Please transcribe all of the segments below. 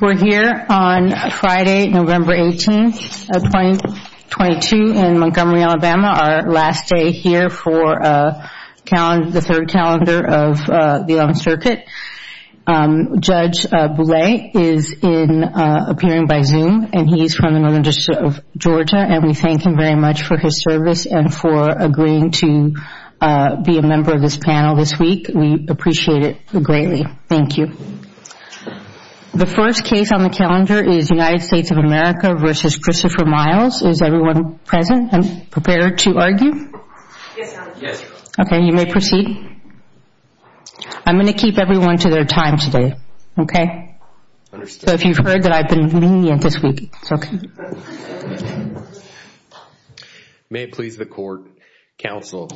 We're here on Friday, November 18th, 2022 in Montgomery, Alabama, our last day here for the third calendar of the 11th Circuit. Judge Bouley is appearing by Zoom, and he's from the Northern District of Georgia, and we thank him very much for his service and for agreeing to be a member of this panel this week. We appreciate it greatly. Thank you. The first case on the calendar is United States of America v. Christopher Miles. Is everyone present and prepared to argue? Yes, Your Honor. Yes, Your Honor. Okay, you may proceed. I'm going to keep everyone to their time today, okay? Understood. So if you've heard that I've been lenient this week, it's okay. May it please the court, counsel.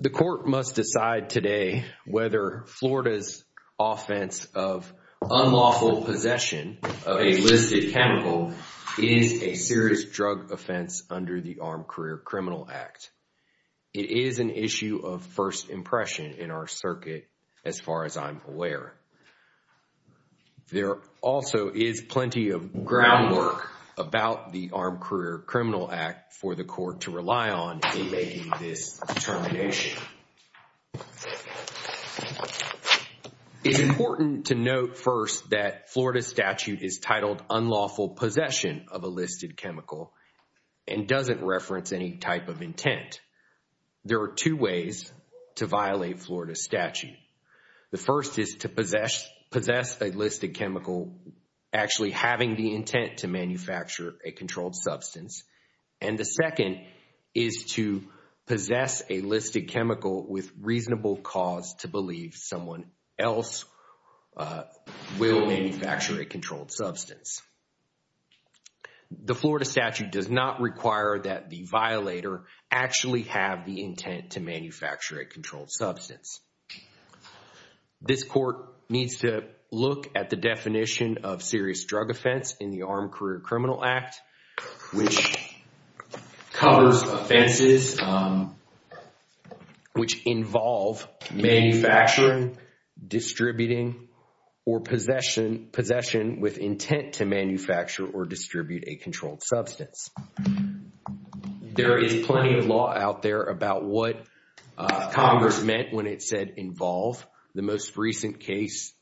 The court must decide today whether Florida's offense of unlawful possession of a listed chemical is a serious drug offense under the Armed Career Criminal Act. It is an issue of first impression in our circuit, as far as I'm aware. There also is plenty of groundwork about the Armed Career Criminal Act for the court to rely on in making this determination. It's important to note first that Florida's statute is titled unlawful possession of a listed chemical and doesn't reference any type of a listed chemical actually having the intent to manufacture a controlled substance. And the second is to possess a listed chemical with reasonable cause to believe someone else will manufacture a controlled substance. The Florida statute does not require that the violator actually have the intent to manufacture a controlled substance. This court needs to look at the definition of serious drug offense in the Armed Career Criminal Act, which covers offenses which involve manufacturing, distributing, or possession with intent to manufacture or distribute a controlled substance. There is plenty of law out there about what Congress meant when it said involve. The most recent case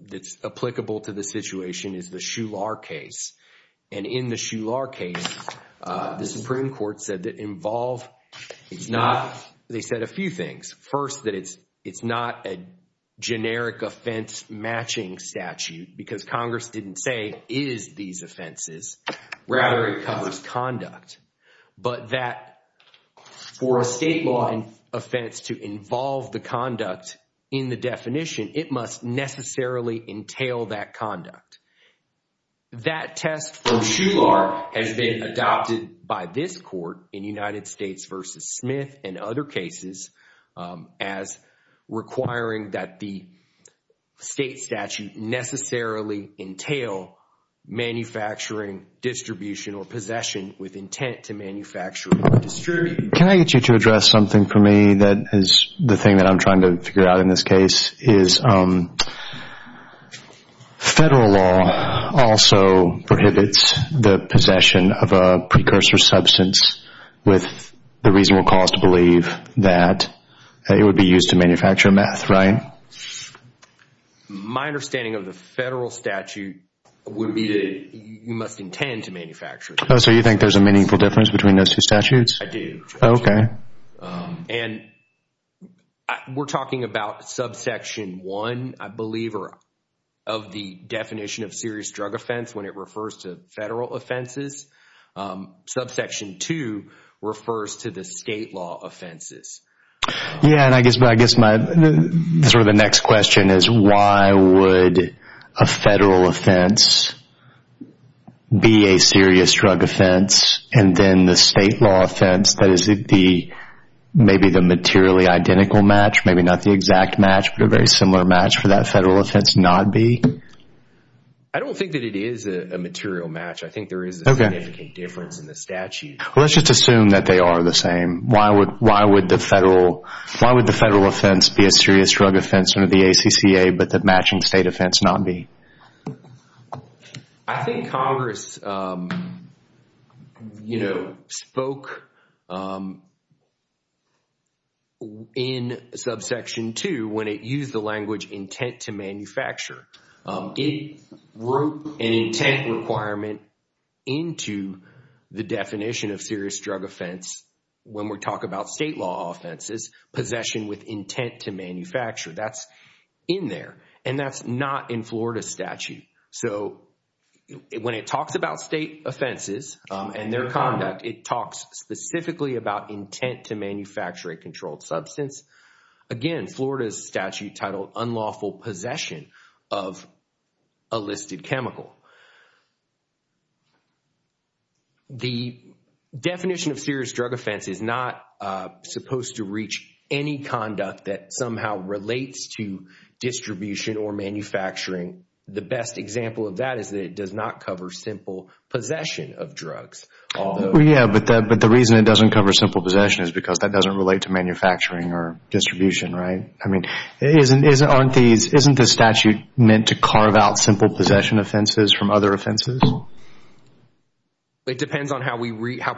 that's applicable to the situation is the Shular case. And in the Shular case, the Supreme Court said that involve is not, they said a few things. First, that it's not a generic offense matching statute because Congress didn't say is these offenses, rather it covers conduct. But that for a state law offense to involve the conduct in the definition, it must necessarily entail that conduct. That test for Shular has been adopted by this court in United States v. Smith and other cases as requiring that the statute necessarily entail manufacturing, distribution, or possession with intent to manufacture or distribute. Can I get you to address something for me that is the thing that I'm trying to figure out in this case is federal law also prohibits the possession of a precursor substance with the reasonable cause to believe that it would be used to manufacture meth, right? My understanding of the federal statute would be that you must intend to manufacture. So you think there's a meaningful difference between those two statutes? I do. Okay. And we're talking about subsection one, I believe, of the definition of serious drug offense when it refers to federal offenses. Subsection two refers to the state law offenses. Yeah. And I guess sort of the next question is why would a federal offense be a serious drug offense and then the state law offense that is maybe the materially identical match, maybe not the exact match, but a very similar match for that federal offense not be? I don't think that it is a material match. I think there is a significant difference in the statute. Let's just assume that they are the same. Why would the federal offense be a serious drug offense under the ACCA but the matching state offense not be? I think Congress spoke in subsection two when it used the language intent to manufacture. It wrote an intent requirement into the definition of serious drug offense when we talk about state law offenses, possession with intent to manufacture. That's in there. And that's not in Florida statute. So when it talks about state offenses and their conduct, it talks specifically about intent to manufacture a controlled substance. Again, Florida's statute titled unlawful possession of a listed chemical. The definition of serious drug offense is not supposed to reach any conduct that somehow relates to distribution or manufacturing. The best example of that is that it does not cover simple possession of drugs. Yeah. But the reason it doesn't cover simple possession is because that doesn't relate to manufacturing or distribution, right? I mean, isn't the statute meant to carve out simple possession offenses from other offenses? It depends on how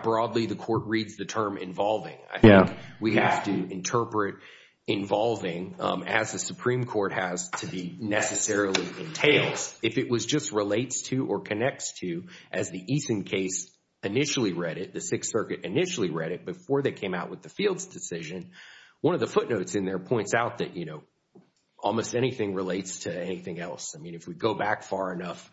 broadly the court reads the term involving. I think we have to interpret involving as the Supreme Court has to be necessarily entails. If it was just relates to or connects to as the Eason case initially read it, the Sixth Circuit initially read it before they came out with the Fields decision. One of the footnotes in there points out that, you know, almost anything relates to anything else. I mean, if we go back far enough,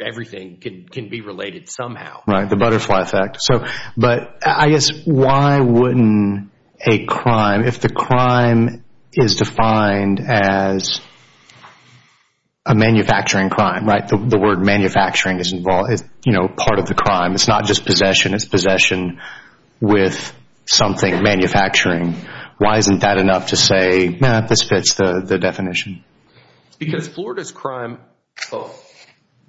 everything can be related somehow. Right. The butterfly effect. So, but I guess why wouldn't a crime, if the crime is defined as a manufacturing crime, right? The word manufacturing is, you know, part of the crime. It's not just possession. It's possession with something manufacturing. Why isn't that enough to say, nah, this fits the definition? Because Florida's crime, oh,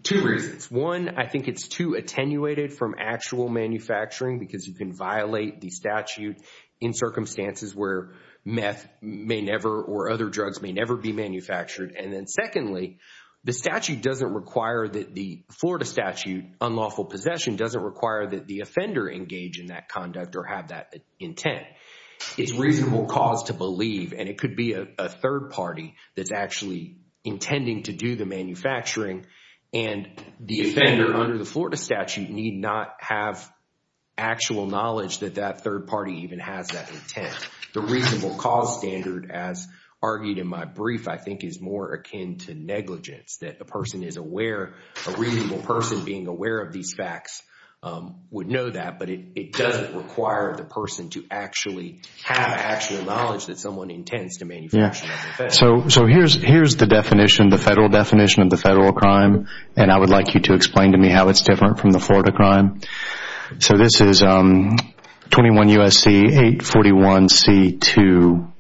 two reasons. One, I think it's too attenuated from actual manufacturing because you can violate the statute in circumstances where meth may never or other drugs may never be manufactured. And then secondly, the statute doesn't require that the Florida statute, unlawful possession, doesn't require that the offender engage in that conduct or have that intent. It's reasonable cause to believe and it could be a third party that's actually intending to do the manufacturing and the offender under the Florida statute need not have actual knowledge that that third party even has that intent. The reasonable cause standard, as argued in my brief, I think is more akin to negligence, that a person is aware, a reasonable person being aware of these facts would know that, but it doesn't require the person to actually have actual knowledge that someone intends to manufacture that offense. Yeah. So here's the definition, the federal definition of the federal crime, and I would like you to explain to me how it's different from the Florida crime. So this is 21 U.S.C. 841C2.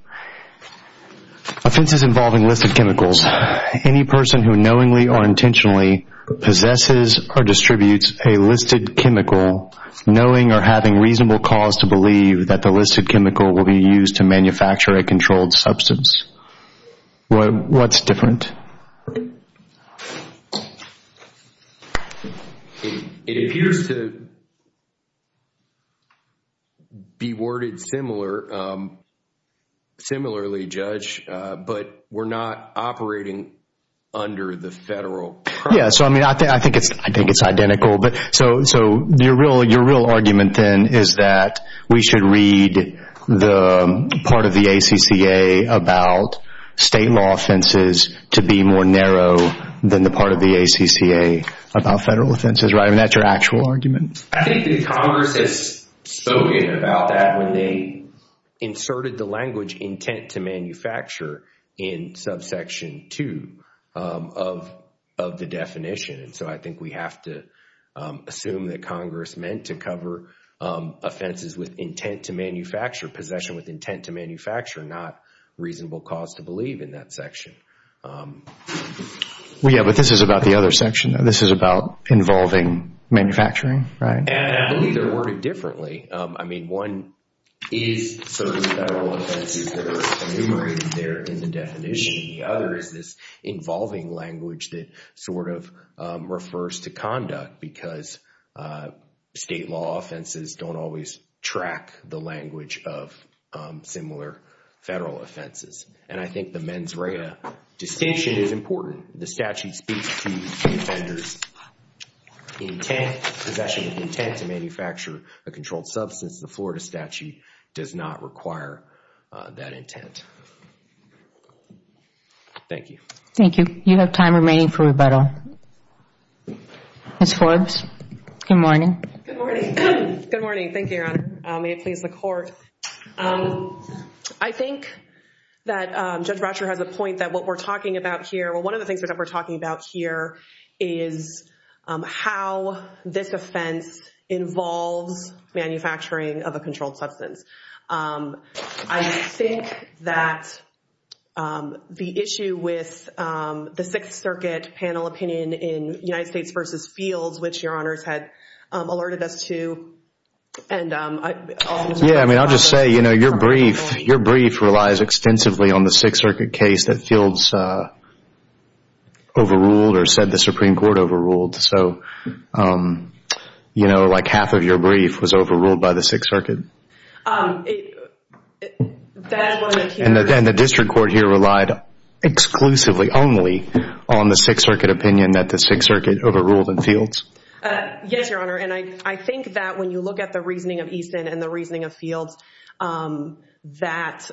Offenses involving listed chemicals. Any person who knowingly or intentionally possesses or distributes a listed chemical, knowing or having reasonable cause to believe that the listed chemical will be used to manufacture a controlled substance. What's different? It appears to be worded similarly, Judge, but we're not operating under the federal. Yeah. So I mean, I think it's identical, but so your real argument then is that we should read the part of the ACCA about state law offenses to be more narrow than the part of the ACCA about federal offenses, right? And that's your actual argument? I think that Congress has spoken about that when they inserted the language intent to manufacture in subsection two of the definition. And so I think we have to assume that Congress meant to cover offenses with intent to manufacture, possession with intent to manufacture, not reasonable cause to believe in that section. Well, yeah, but this is about the other section. This is about involving manufacturing, right? And I believe they're worded differently. I mean, one is sort of federal offenses that are enumerated there in the definition. The other is this involving language that sort of refers to conduct because state law offenses don't always track the language of similar federal offenses. And I think the mens rea distinction is important. The statute speaks to the offender's intent, possession of intent to manufacture a controlled substance. The Florida statute does not require that intent. Thank you. Ms. Forbes, good morning. Good morning. Good morning. Thank you, Your Honor. May it please the Court. I think that Judge Bratcher has a point that what we're talking about here, well, one of the things that we're talking about here is how this offense involves manufacturing of a controlled substance. I think that the issue with the Sixth Circuit panel opinion in United States v. Fields, which Your Honors had alerted us to. Yeah, I mean, I'll just say, you know, your brief relies extensively on the Sixth Circuit case that Fields overruled or said the Supreme Court overruled. So, you know, like half of your brief was overruled by the Sixth Circuit. And the district court here relied exclusively, only on the Sixth Circuit opinion that the Sixth Circuit overruled in Fields? Yes, Your Honor. And I think that when you look at the reasoning of Easton and the reasoning of Fields, that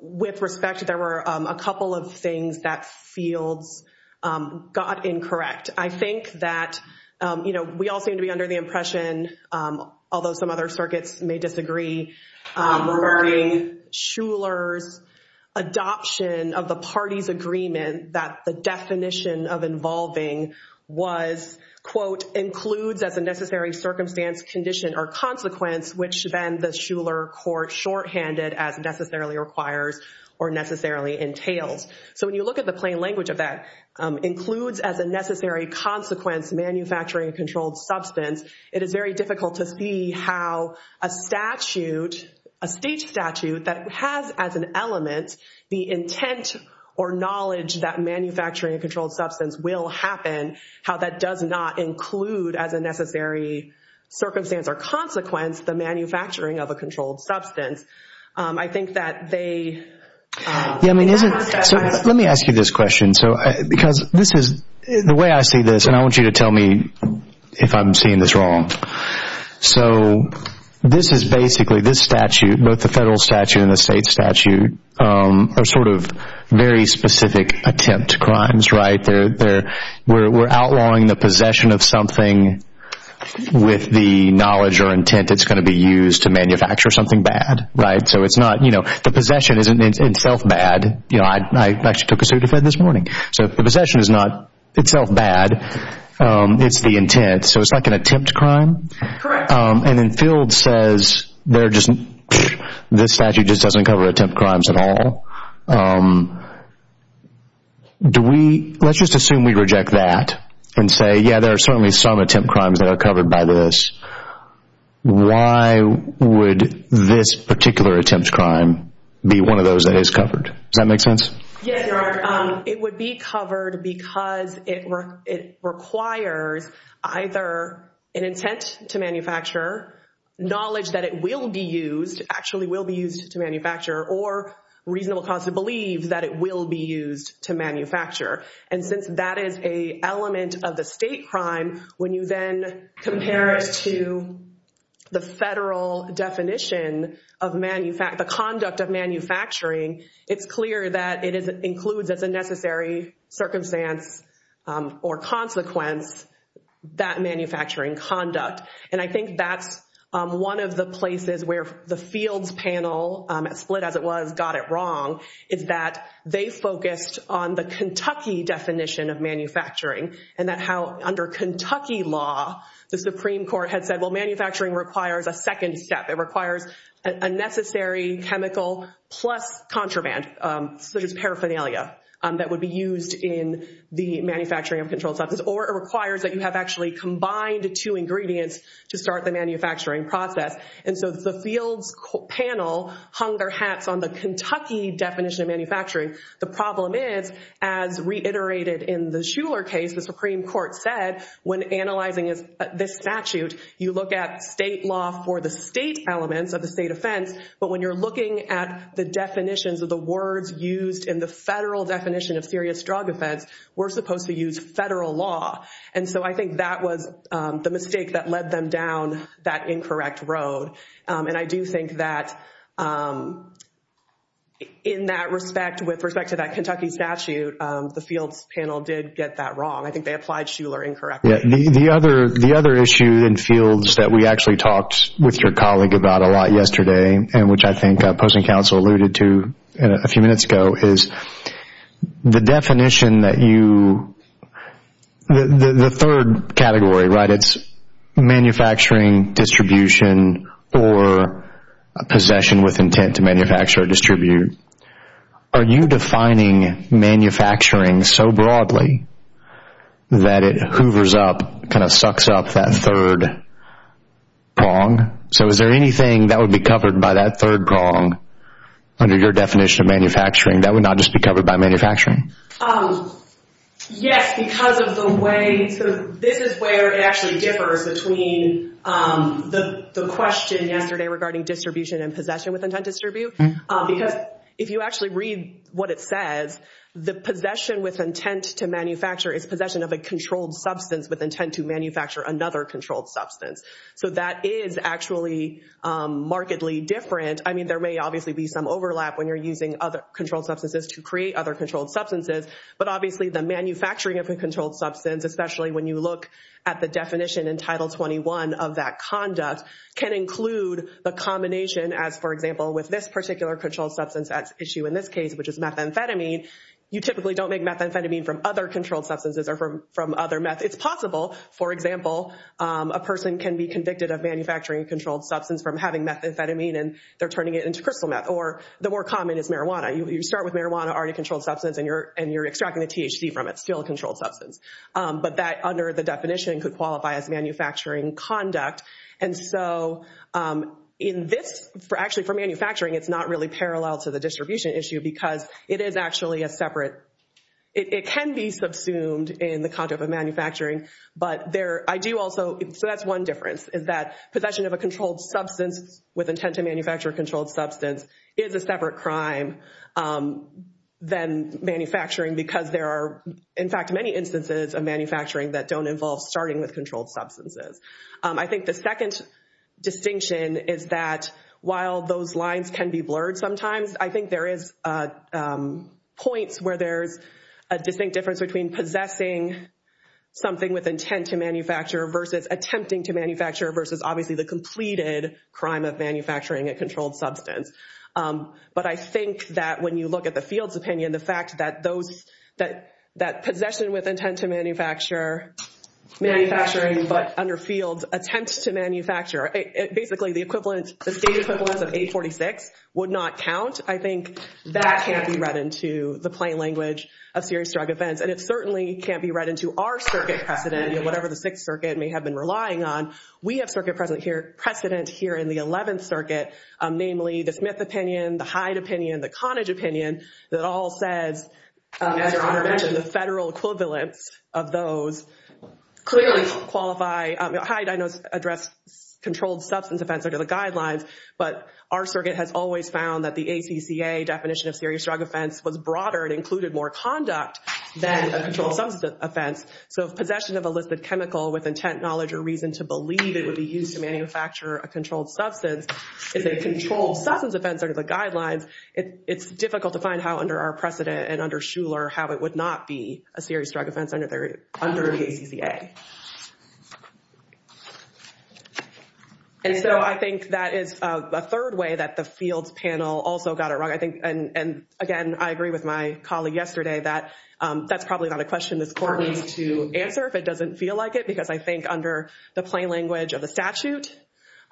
with respect, there were a couple of things that Fields got incorrect. I think that, you know, we all seem to be under the impression, although some other circuits may disagree, regarding Shuler's adoption of the party's agreement that the definition of involving was, quote, includes as a necessary circumstance, condition, or consequence, which then the Shuler court shorthanded as necessarily requires or necessarily entails. So when you look at the plain language of that, includes as a necessary consequence, manufacturing a controlled substance, it is very difficult to see how a statute, a state statute, that has as an element the intent or knowledge that manufacturing a controlled substance will happen, how that does not include as a necessary circumstance or consequence the manufacturing of a controlled substance. I think that they— Yeah, I mean, isn't—so let me ask you this and tell me if I'm seeing this wrong. So this is basically, this statute, both the federal statute and the state statute, are sort of very specific attempt crimes, right? They're—we're outlawing the possession of something with the knowledge or intent it's going to be used to manufacture something bad, right? So it's not, you know—the possession isn't itself bad. You know, I actually took a suit to Fed this morning. So the possession is not itself bad. It's the intent. So it's like an attempt crime? Correct. And then Field says they're just—this statute just doesn't cover attempt crimes at all. Do we—let's just assume we reject that and say, yeah, there are certainly some attempt crimes that are covered by this. Why would this particular attempt crime be one of those that is covered? Does that make sense? Yes, Your Honor. It would be covered because it requires either an intent to manufacture, knowledge that it will be used, actually will be used to manufacture, or reasonable cause to believe that it will be used to manufacture. And since that is an element of the state crime, when you then compare it to the federal definition of—the conduct of manufacturing, it's clear that it includes as a necessary circumstance or consequence that manufacturing conduct. And I think that's one of the places where the Fields panel, as split as it was, got it wrong, is that they focused on the Kentucky definition of manufacturing and that how under Kentucky law, the Supreme Court had said, well, manufacturing requires a second step. It requires a necessary chemical plus contraband, such as paraphernalia, that would be used in the manufacturing of controlled substances, or it requires that you have actually combined two ingredients to start the manufacturing process. And so the Fields panel hung their hats on the Kentucky definition of manufacturing. The problem is, as reiterated in the Shuler case, the Supreme Court said, when analyzing this statute, you look at state law for the state elements of the state offense, but when you're looking at the definitions of the words used in the federal definition of serious drug offense, we're supposed to use federal law. And so I think that was the mistake that led them down that incorrect road. And I do think that in that respect, with respect to that Kentucky statute, the Fields panel did get that wrong. I think they applied Shuler incorrectly. The other issue in Fields that we actually talked with your colleague about a lot yesterday, and which I think opposing counsel alluded to a few minutes ago, is the definition that you, the third category, right, it's manufacturing, distribution, or possession with intent to kind of sucks up that third prong. So is there anything that would be covered by that third prong under your definition of manufacturing that would not just be covered by manufacturing? Yes, because of the way, so this is where it actually differs between the question yesterday regarding distribution and possession with intent to distribute. Because if you actually read what says, the possession with intent to manufacture is possession of a controlled substance with intent to manufacture another controlled substance. So that is actually markedly different. I mean, there may obviously be some overlap when you're using other controlled substances to create other controlled substances, but obviously the manufacturing of a controlled substance, especially when you look at the definition in Title 21 of that conduct, can include the combination as, for example, with this particular controlled substance at issue in this case, which is methamphetamine, you typically don't make methamphetamine from other controlled substances or from other meth. It's possible, for example, a person can be convicted of manufacturing a controlled substance from having methamphetamine and they're turning it into crystal meth. Or the more common is marijuana. You start with marijuana, already controlled substance, and you're extracting the THC from it, still a controlled substance. But that under the definition could qualify as manufacturing conduct. And so in this, actually for manufacturing, it's not really it is actually a separate, it can be subsumed in the content of manufacturing, but there, I do also, so that's one difference, is that possession of a controlled substance with intent to manufacture a controlled substance is a separate crime than manufacturing because there are, in fact, many instances of manufacturing that don't involve starting with controlled substances. I think the second distinction is that while those lines can be blurred sometimes, I think there is points where there's a distinct difference between possessing something with intent to manufacture versus attempting to manufacture versus obviously the completed crime of manufacturing a controlled substance. But I think that when you look at the field's opinion, the fact that those, that possession with intent to manufacture, manufacturing but under field attempt to manufacture, basically the equivalent, the state equivalence of 846 would not count. I think that can't be read into the plain language of serious drug offense. And it certainly can't be read into our circuit precedent, whatever the Sixth Circuit may have been relying on. We have circuit precedent here in the 11th Circuit, namely the Smith opinion, the Hyde opinion, the Conage opinion, that all says, as your Honor mentioned, the federal equivalence of those clearly qualify, Hyde, I know, address controlled substance offense under the guidelines. But our circuit has always found that the ACCA definition of serious drug offense was broader and included more conduct than a controlled substance offense. So if possession of a listed chemical with intent, knowledge, or reason to believe it would be used to manufacture a controlled substance is a controlled substance offense under the guidelines, it's difficult to find how under our precedent and under Shuler how it would not be a serious drug offense under the ACCA. And so I think that is a third way that the fields panel also got it wrong. I think, and again, I agree with my colleague yesterday that that's probably not a question this Court needs to answer if it doesn't feel like it because I think under the plain language of the statute,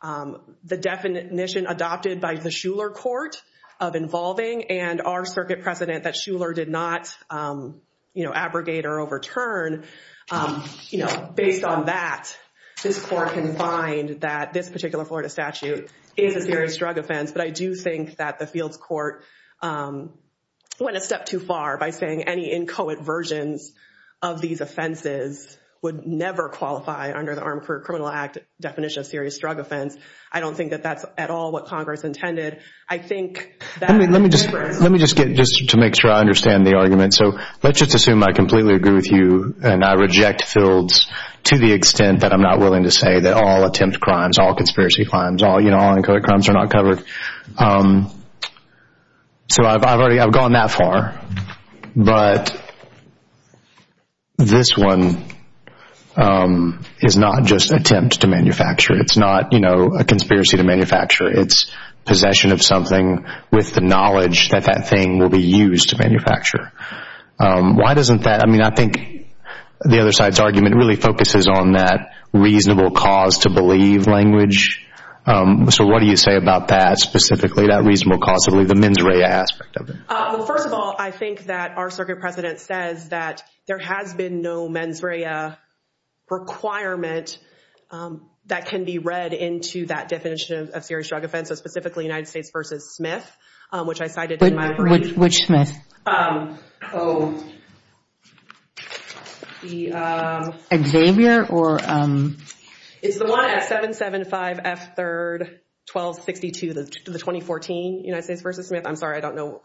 the definition adopted by the Shuler Court of involving and our circuit precedent that abrogate or overturn, you know, based on that, this Court can find that this particular Florida statute is a serious drug offense. But I do think that the fields court went a step too far by saying any inchoate versions of these offenses would never qualify under the Armed Career Criminal Act definition of serious drug offense. I don't think that that's at all what Congress intended. I think that... Let me just get just to make sure I understand the argument. So let's just assume I completely agree with you and I reject fields to the extent that I'm not willing to say that all attempt crimes, all conspiracy crimes, all, you know, all inchoate crimes are not covered. So I've already, I've gone that far. But this one is not just attempt to manufacture. It's not, you know, a conspiracy to manufacture. It's possession of something with the knowledge that that thing will be used to manufacture. Why doesn't that, I mean, I think the other side's argument really focuses on that reasonable cause to believe language. So what do you say about that specifically, that reasonable cause to believe, the mens rea aspect of it? Well, first of all, I think that our circuit precedent says that there has been no mens rea requirement that can be read into that definition of serious drug offense, specifically United States v. Smith, which I cited in my brief. Which Smith? Xavier or... It's the one at 775 F 3rd 1262, the 2014 United States v. Smith. I'm sorry, I don't know.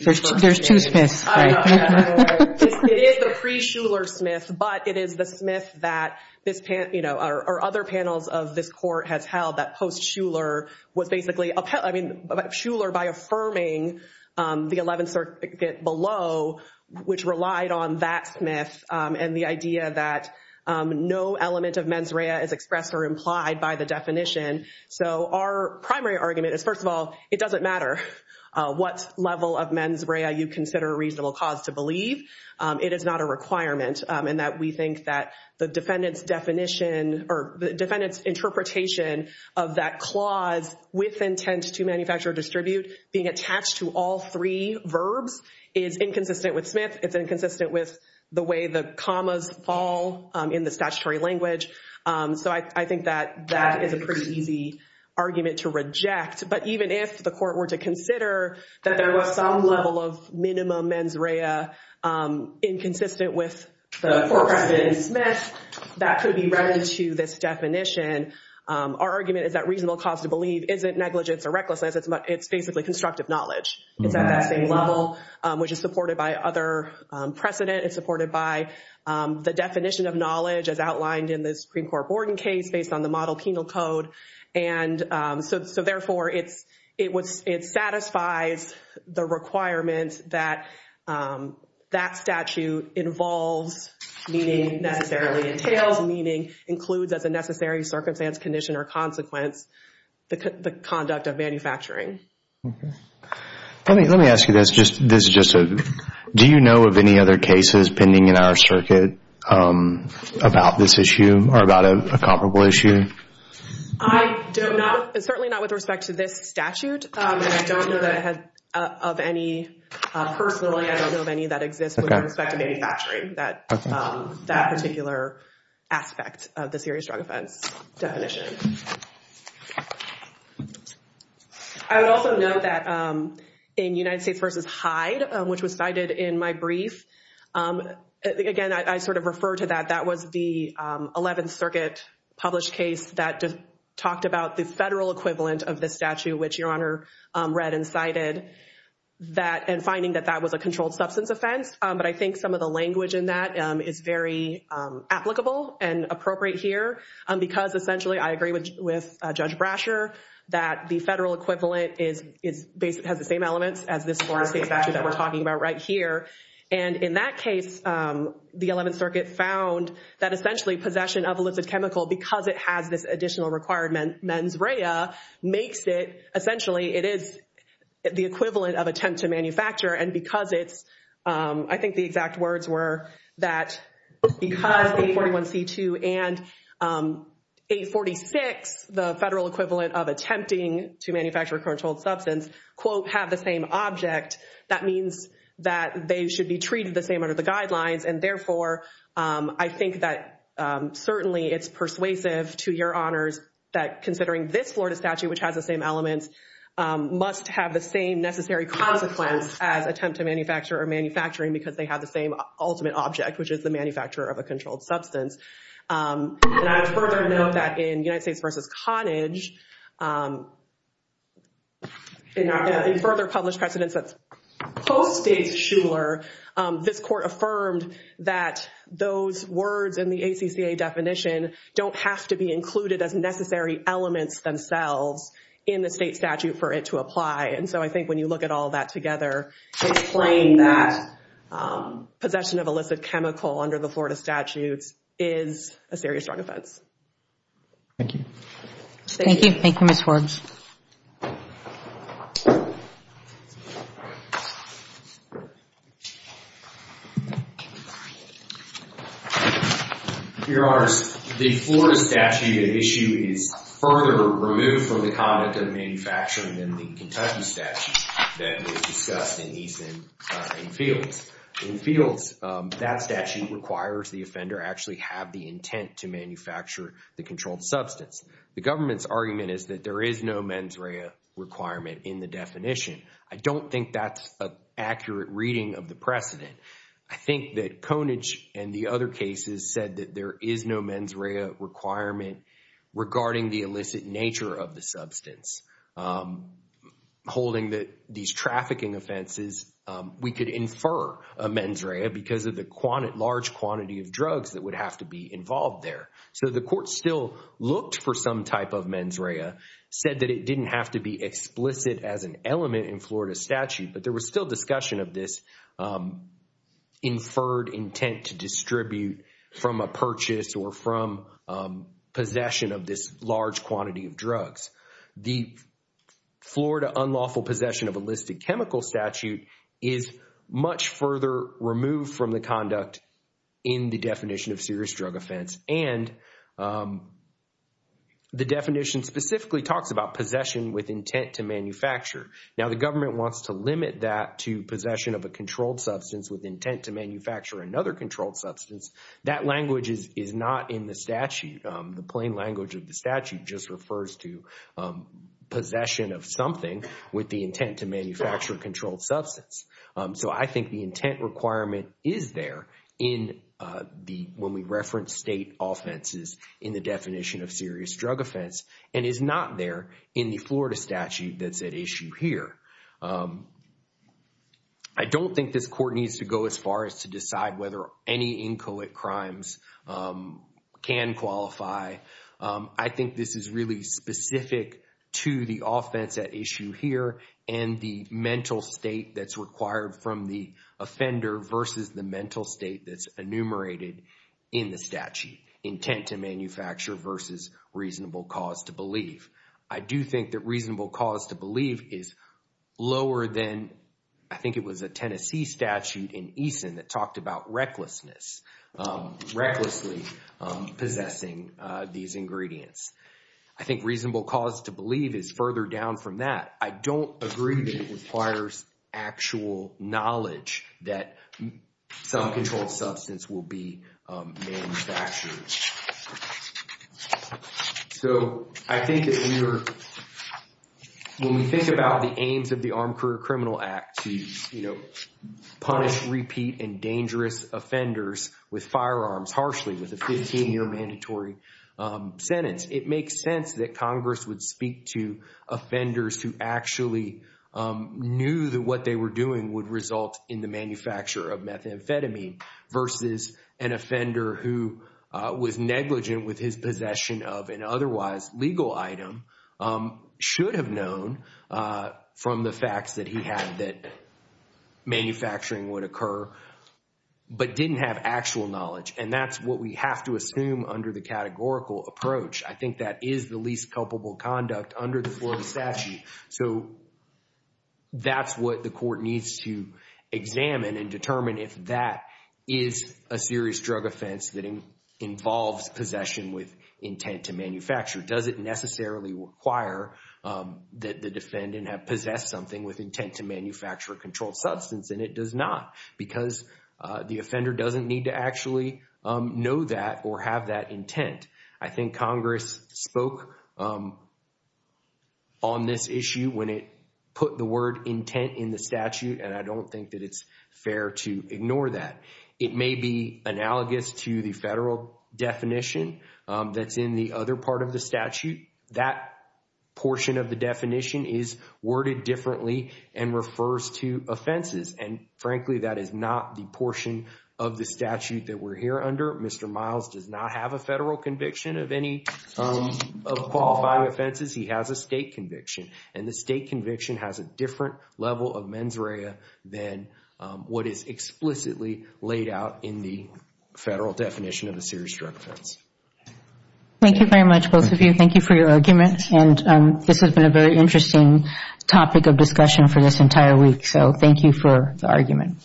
There's two Smiths. It is the pre-Shuler Smith, but it is the Smith that this, you know, or other panels of this court has held that post-Shuler was basically, I mean, Shuler by affirming the 11th circuit below, which relied on that Smith and the idea that no element of mens rea is expressed or implied by the definition. So our primary argument is, first of all, it doesn't matter what level of mens rea you consider a reasonable cause to believe. It is not a requirement in that we think that defendant's definition or defendant's interpretation of that clause with intent to manufacture or distribute being attached to all three verbs is inconsistent with Smith. It's inconsistent with the way the commas fall in the statutory language. So I think that that is a pretty easy argument to reject. But even if the court were to consider that there was some level of minimum mens rea inconsistent with the court precedent in Smith, that could be read into this definition. Our argument is that reasonable cause to believe isn't negligence or recklessness. It's basically constructive knowledge. It's at that same level, which is supported by other precedent. It's supported by the definition of knowledge as outlined in the Supreme Court Borden case based on the model penal code. And so, therefore, it satisfies the requirement that that statute involves meaning, necessarily entails meaning, includes as a necessary circumstance, condition, or consequence, the conduct of manufacturing. Let me ask you this. Do you know of any other cases pending in our circuit about this issue or about a comparable issue? I do not. Certainly not with respect to this statute. And I don't know that I have of any personally. I don't know of any that exists with respect to manufacturing, that particular aspect of the serious drug offense definition. I would also note that in United States v. Hyde, which was cited in my brief, again, I sort of refer to that. That was the 11th Circuit published case that talked about the federal equivalent of the statute, which Your Honor read and cited, and finding that that was a controlled substance offense. But I think some of the language in that is very applicable and appropriate here because, essentially, I agree with Judge Brasher that the federal equivalent has the same elements as this former state statute that we're talking about right here. And in that case, the 11th Circuit found that, essentially, possession of illicit chemical because it has this additional requirement mens rea makes it, essentially, it is the equivalent of attempt to manufacture. And because it's, I think the exact words were that because 841c2 and 846, the federal equivalent of attempting to manufacture a controlled substance, quote, have the same object, that means that they should be treated the same under the guidelines. And, therefore, I think that, certainly, it's persuasive to Your Honors that considering this Florida statute, which has the same elements, must have the same necessary consequence as attempt to manufacture or manufacturing because they have the same ultimate object, which is the manufacturer of a controlled substance. And I would further note that in United States v. Cottage, in further published precedents that post-States Shuler, this Court affirmed that those words in the ACCA definition don't have to be included as necessary elements themselves in the state statute for it to apply. And so I think when you look at all that together, it's claimed that possession of illicit chemical under the Florida statute is a serious wrong offense. Thank you. Thank you. Thank you, Ms. Forbes. Your Honors, the Florida statute issue is further removed from the conduct of manufacturing than the Kentucky statute that was discussed in these main fields. In fields, that statute requires the offender actually have the intent to manufacture the controlled substance. The government's argument is that there is no mens rea requirement in the definition. I don't think that's an accurate reading of the precedent. I think that Conage and the other cases said that there is no mens rea requirement regarding the illicit nature of the substance. Holding that these trafficking offenses, we could infer a mens rea because of the large quantity of drugs that would have to be involved there. So the Court still looked for some type of mens rea, said that it didn't have to be explicit as an element in Florida statute, but there was still discussion of this inferred intent to distribute from a purchase or from possession of this large quantity of drugs. The Florida unlawful possession of illicit chemical statute is much further removed from the conduct in the definition of serious drug offense and the definition specifically talks about possession with intent to manufacture. Now, the government wants to limit that to possession of a controlled substance with intent to manufacture another controlled substance. That language is not in the statute. The plain language of the statute just refers to possession of something with the intent to manufacture a controlled substance. So I think the intent requirement is there when we reference state offenses in the definition of serious drug offense and is not there in the Florida statute that's at issue here. I don't think this Court needs to go as far as to decide whether any inchoate crimes can qualify. I think this is really specific to the offense at issue here and the mental state that's required from the offender versus the mental state that's enumerated in the statute, intent to manufacture versus reasonable cause to believe. I do think that reasonable cause to believe is lower than, I think it was a Tennessee statute in Eason that talked about recklessness, recklessly possessing these ingredients. I think reasonable cause to believe is further down from that. I don't agree that it requires actual knowledge that some controlled substance will be manufactured. So I think that when we think about the aims of the Armed Career Criminal Act to punish repeat and dangerous offenders with firearms harshly with a 15-year mandatory sentence, it makes sense that Congress would speak to offenders who actually knew that what they were doing would result in the manufacture of methamphetamine versus an offender who was negligent with his possession of an otherwise legal item, should have known from the facts that he had that manufacturing would occur, but didn't have actual knowledge. And that's what we have to assume under the categorical approach. I think that is the least culpable conduct under the Florida statute. So that's what the court needs to examine and determine if that is a serious drug offense that involves possession with intent to manufacture. Does it necessarily require that the defendant have possessed something with intent to manufacture controlled substance? And it does not because the offender doesn't need to actually know that or have that intent. I think Congress spoke on this issue when it put the word intent in the statute, and I don't think that it's fair to ignore that. It may be analogous to the federal definition that's in the other part of the statute. That portion of the definition is worded differently and refers to offenses. And frankly, that is not the portion of the statute that we're here under. Mr. Miles does not have a federal conviction of any of qualifying offenses. He has a state conviction. And the state conviction has a different level of mens rea than what is explicitly laid out in the federal definition of a serious drug offense. Thank you very much, both of you. Thank you for your arguments. And this has been a very interesting topic of discussion for this entire week. So thank you for the argument.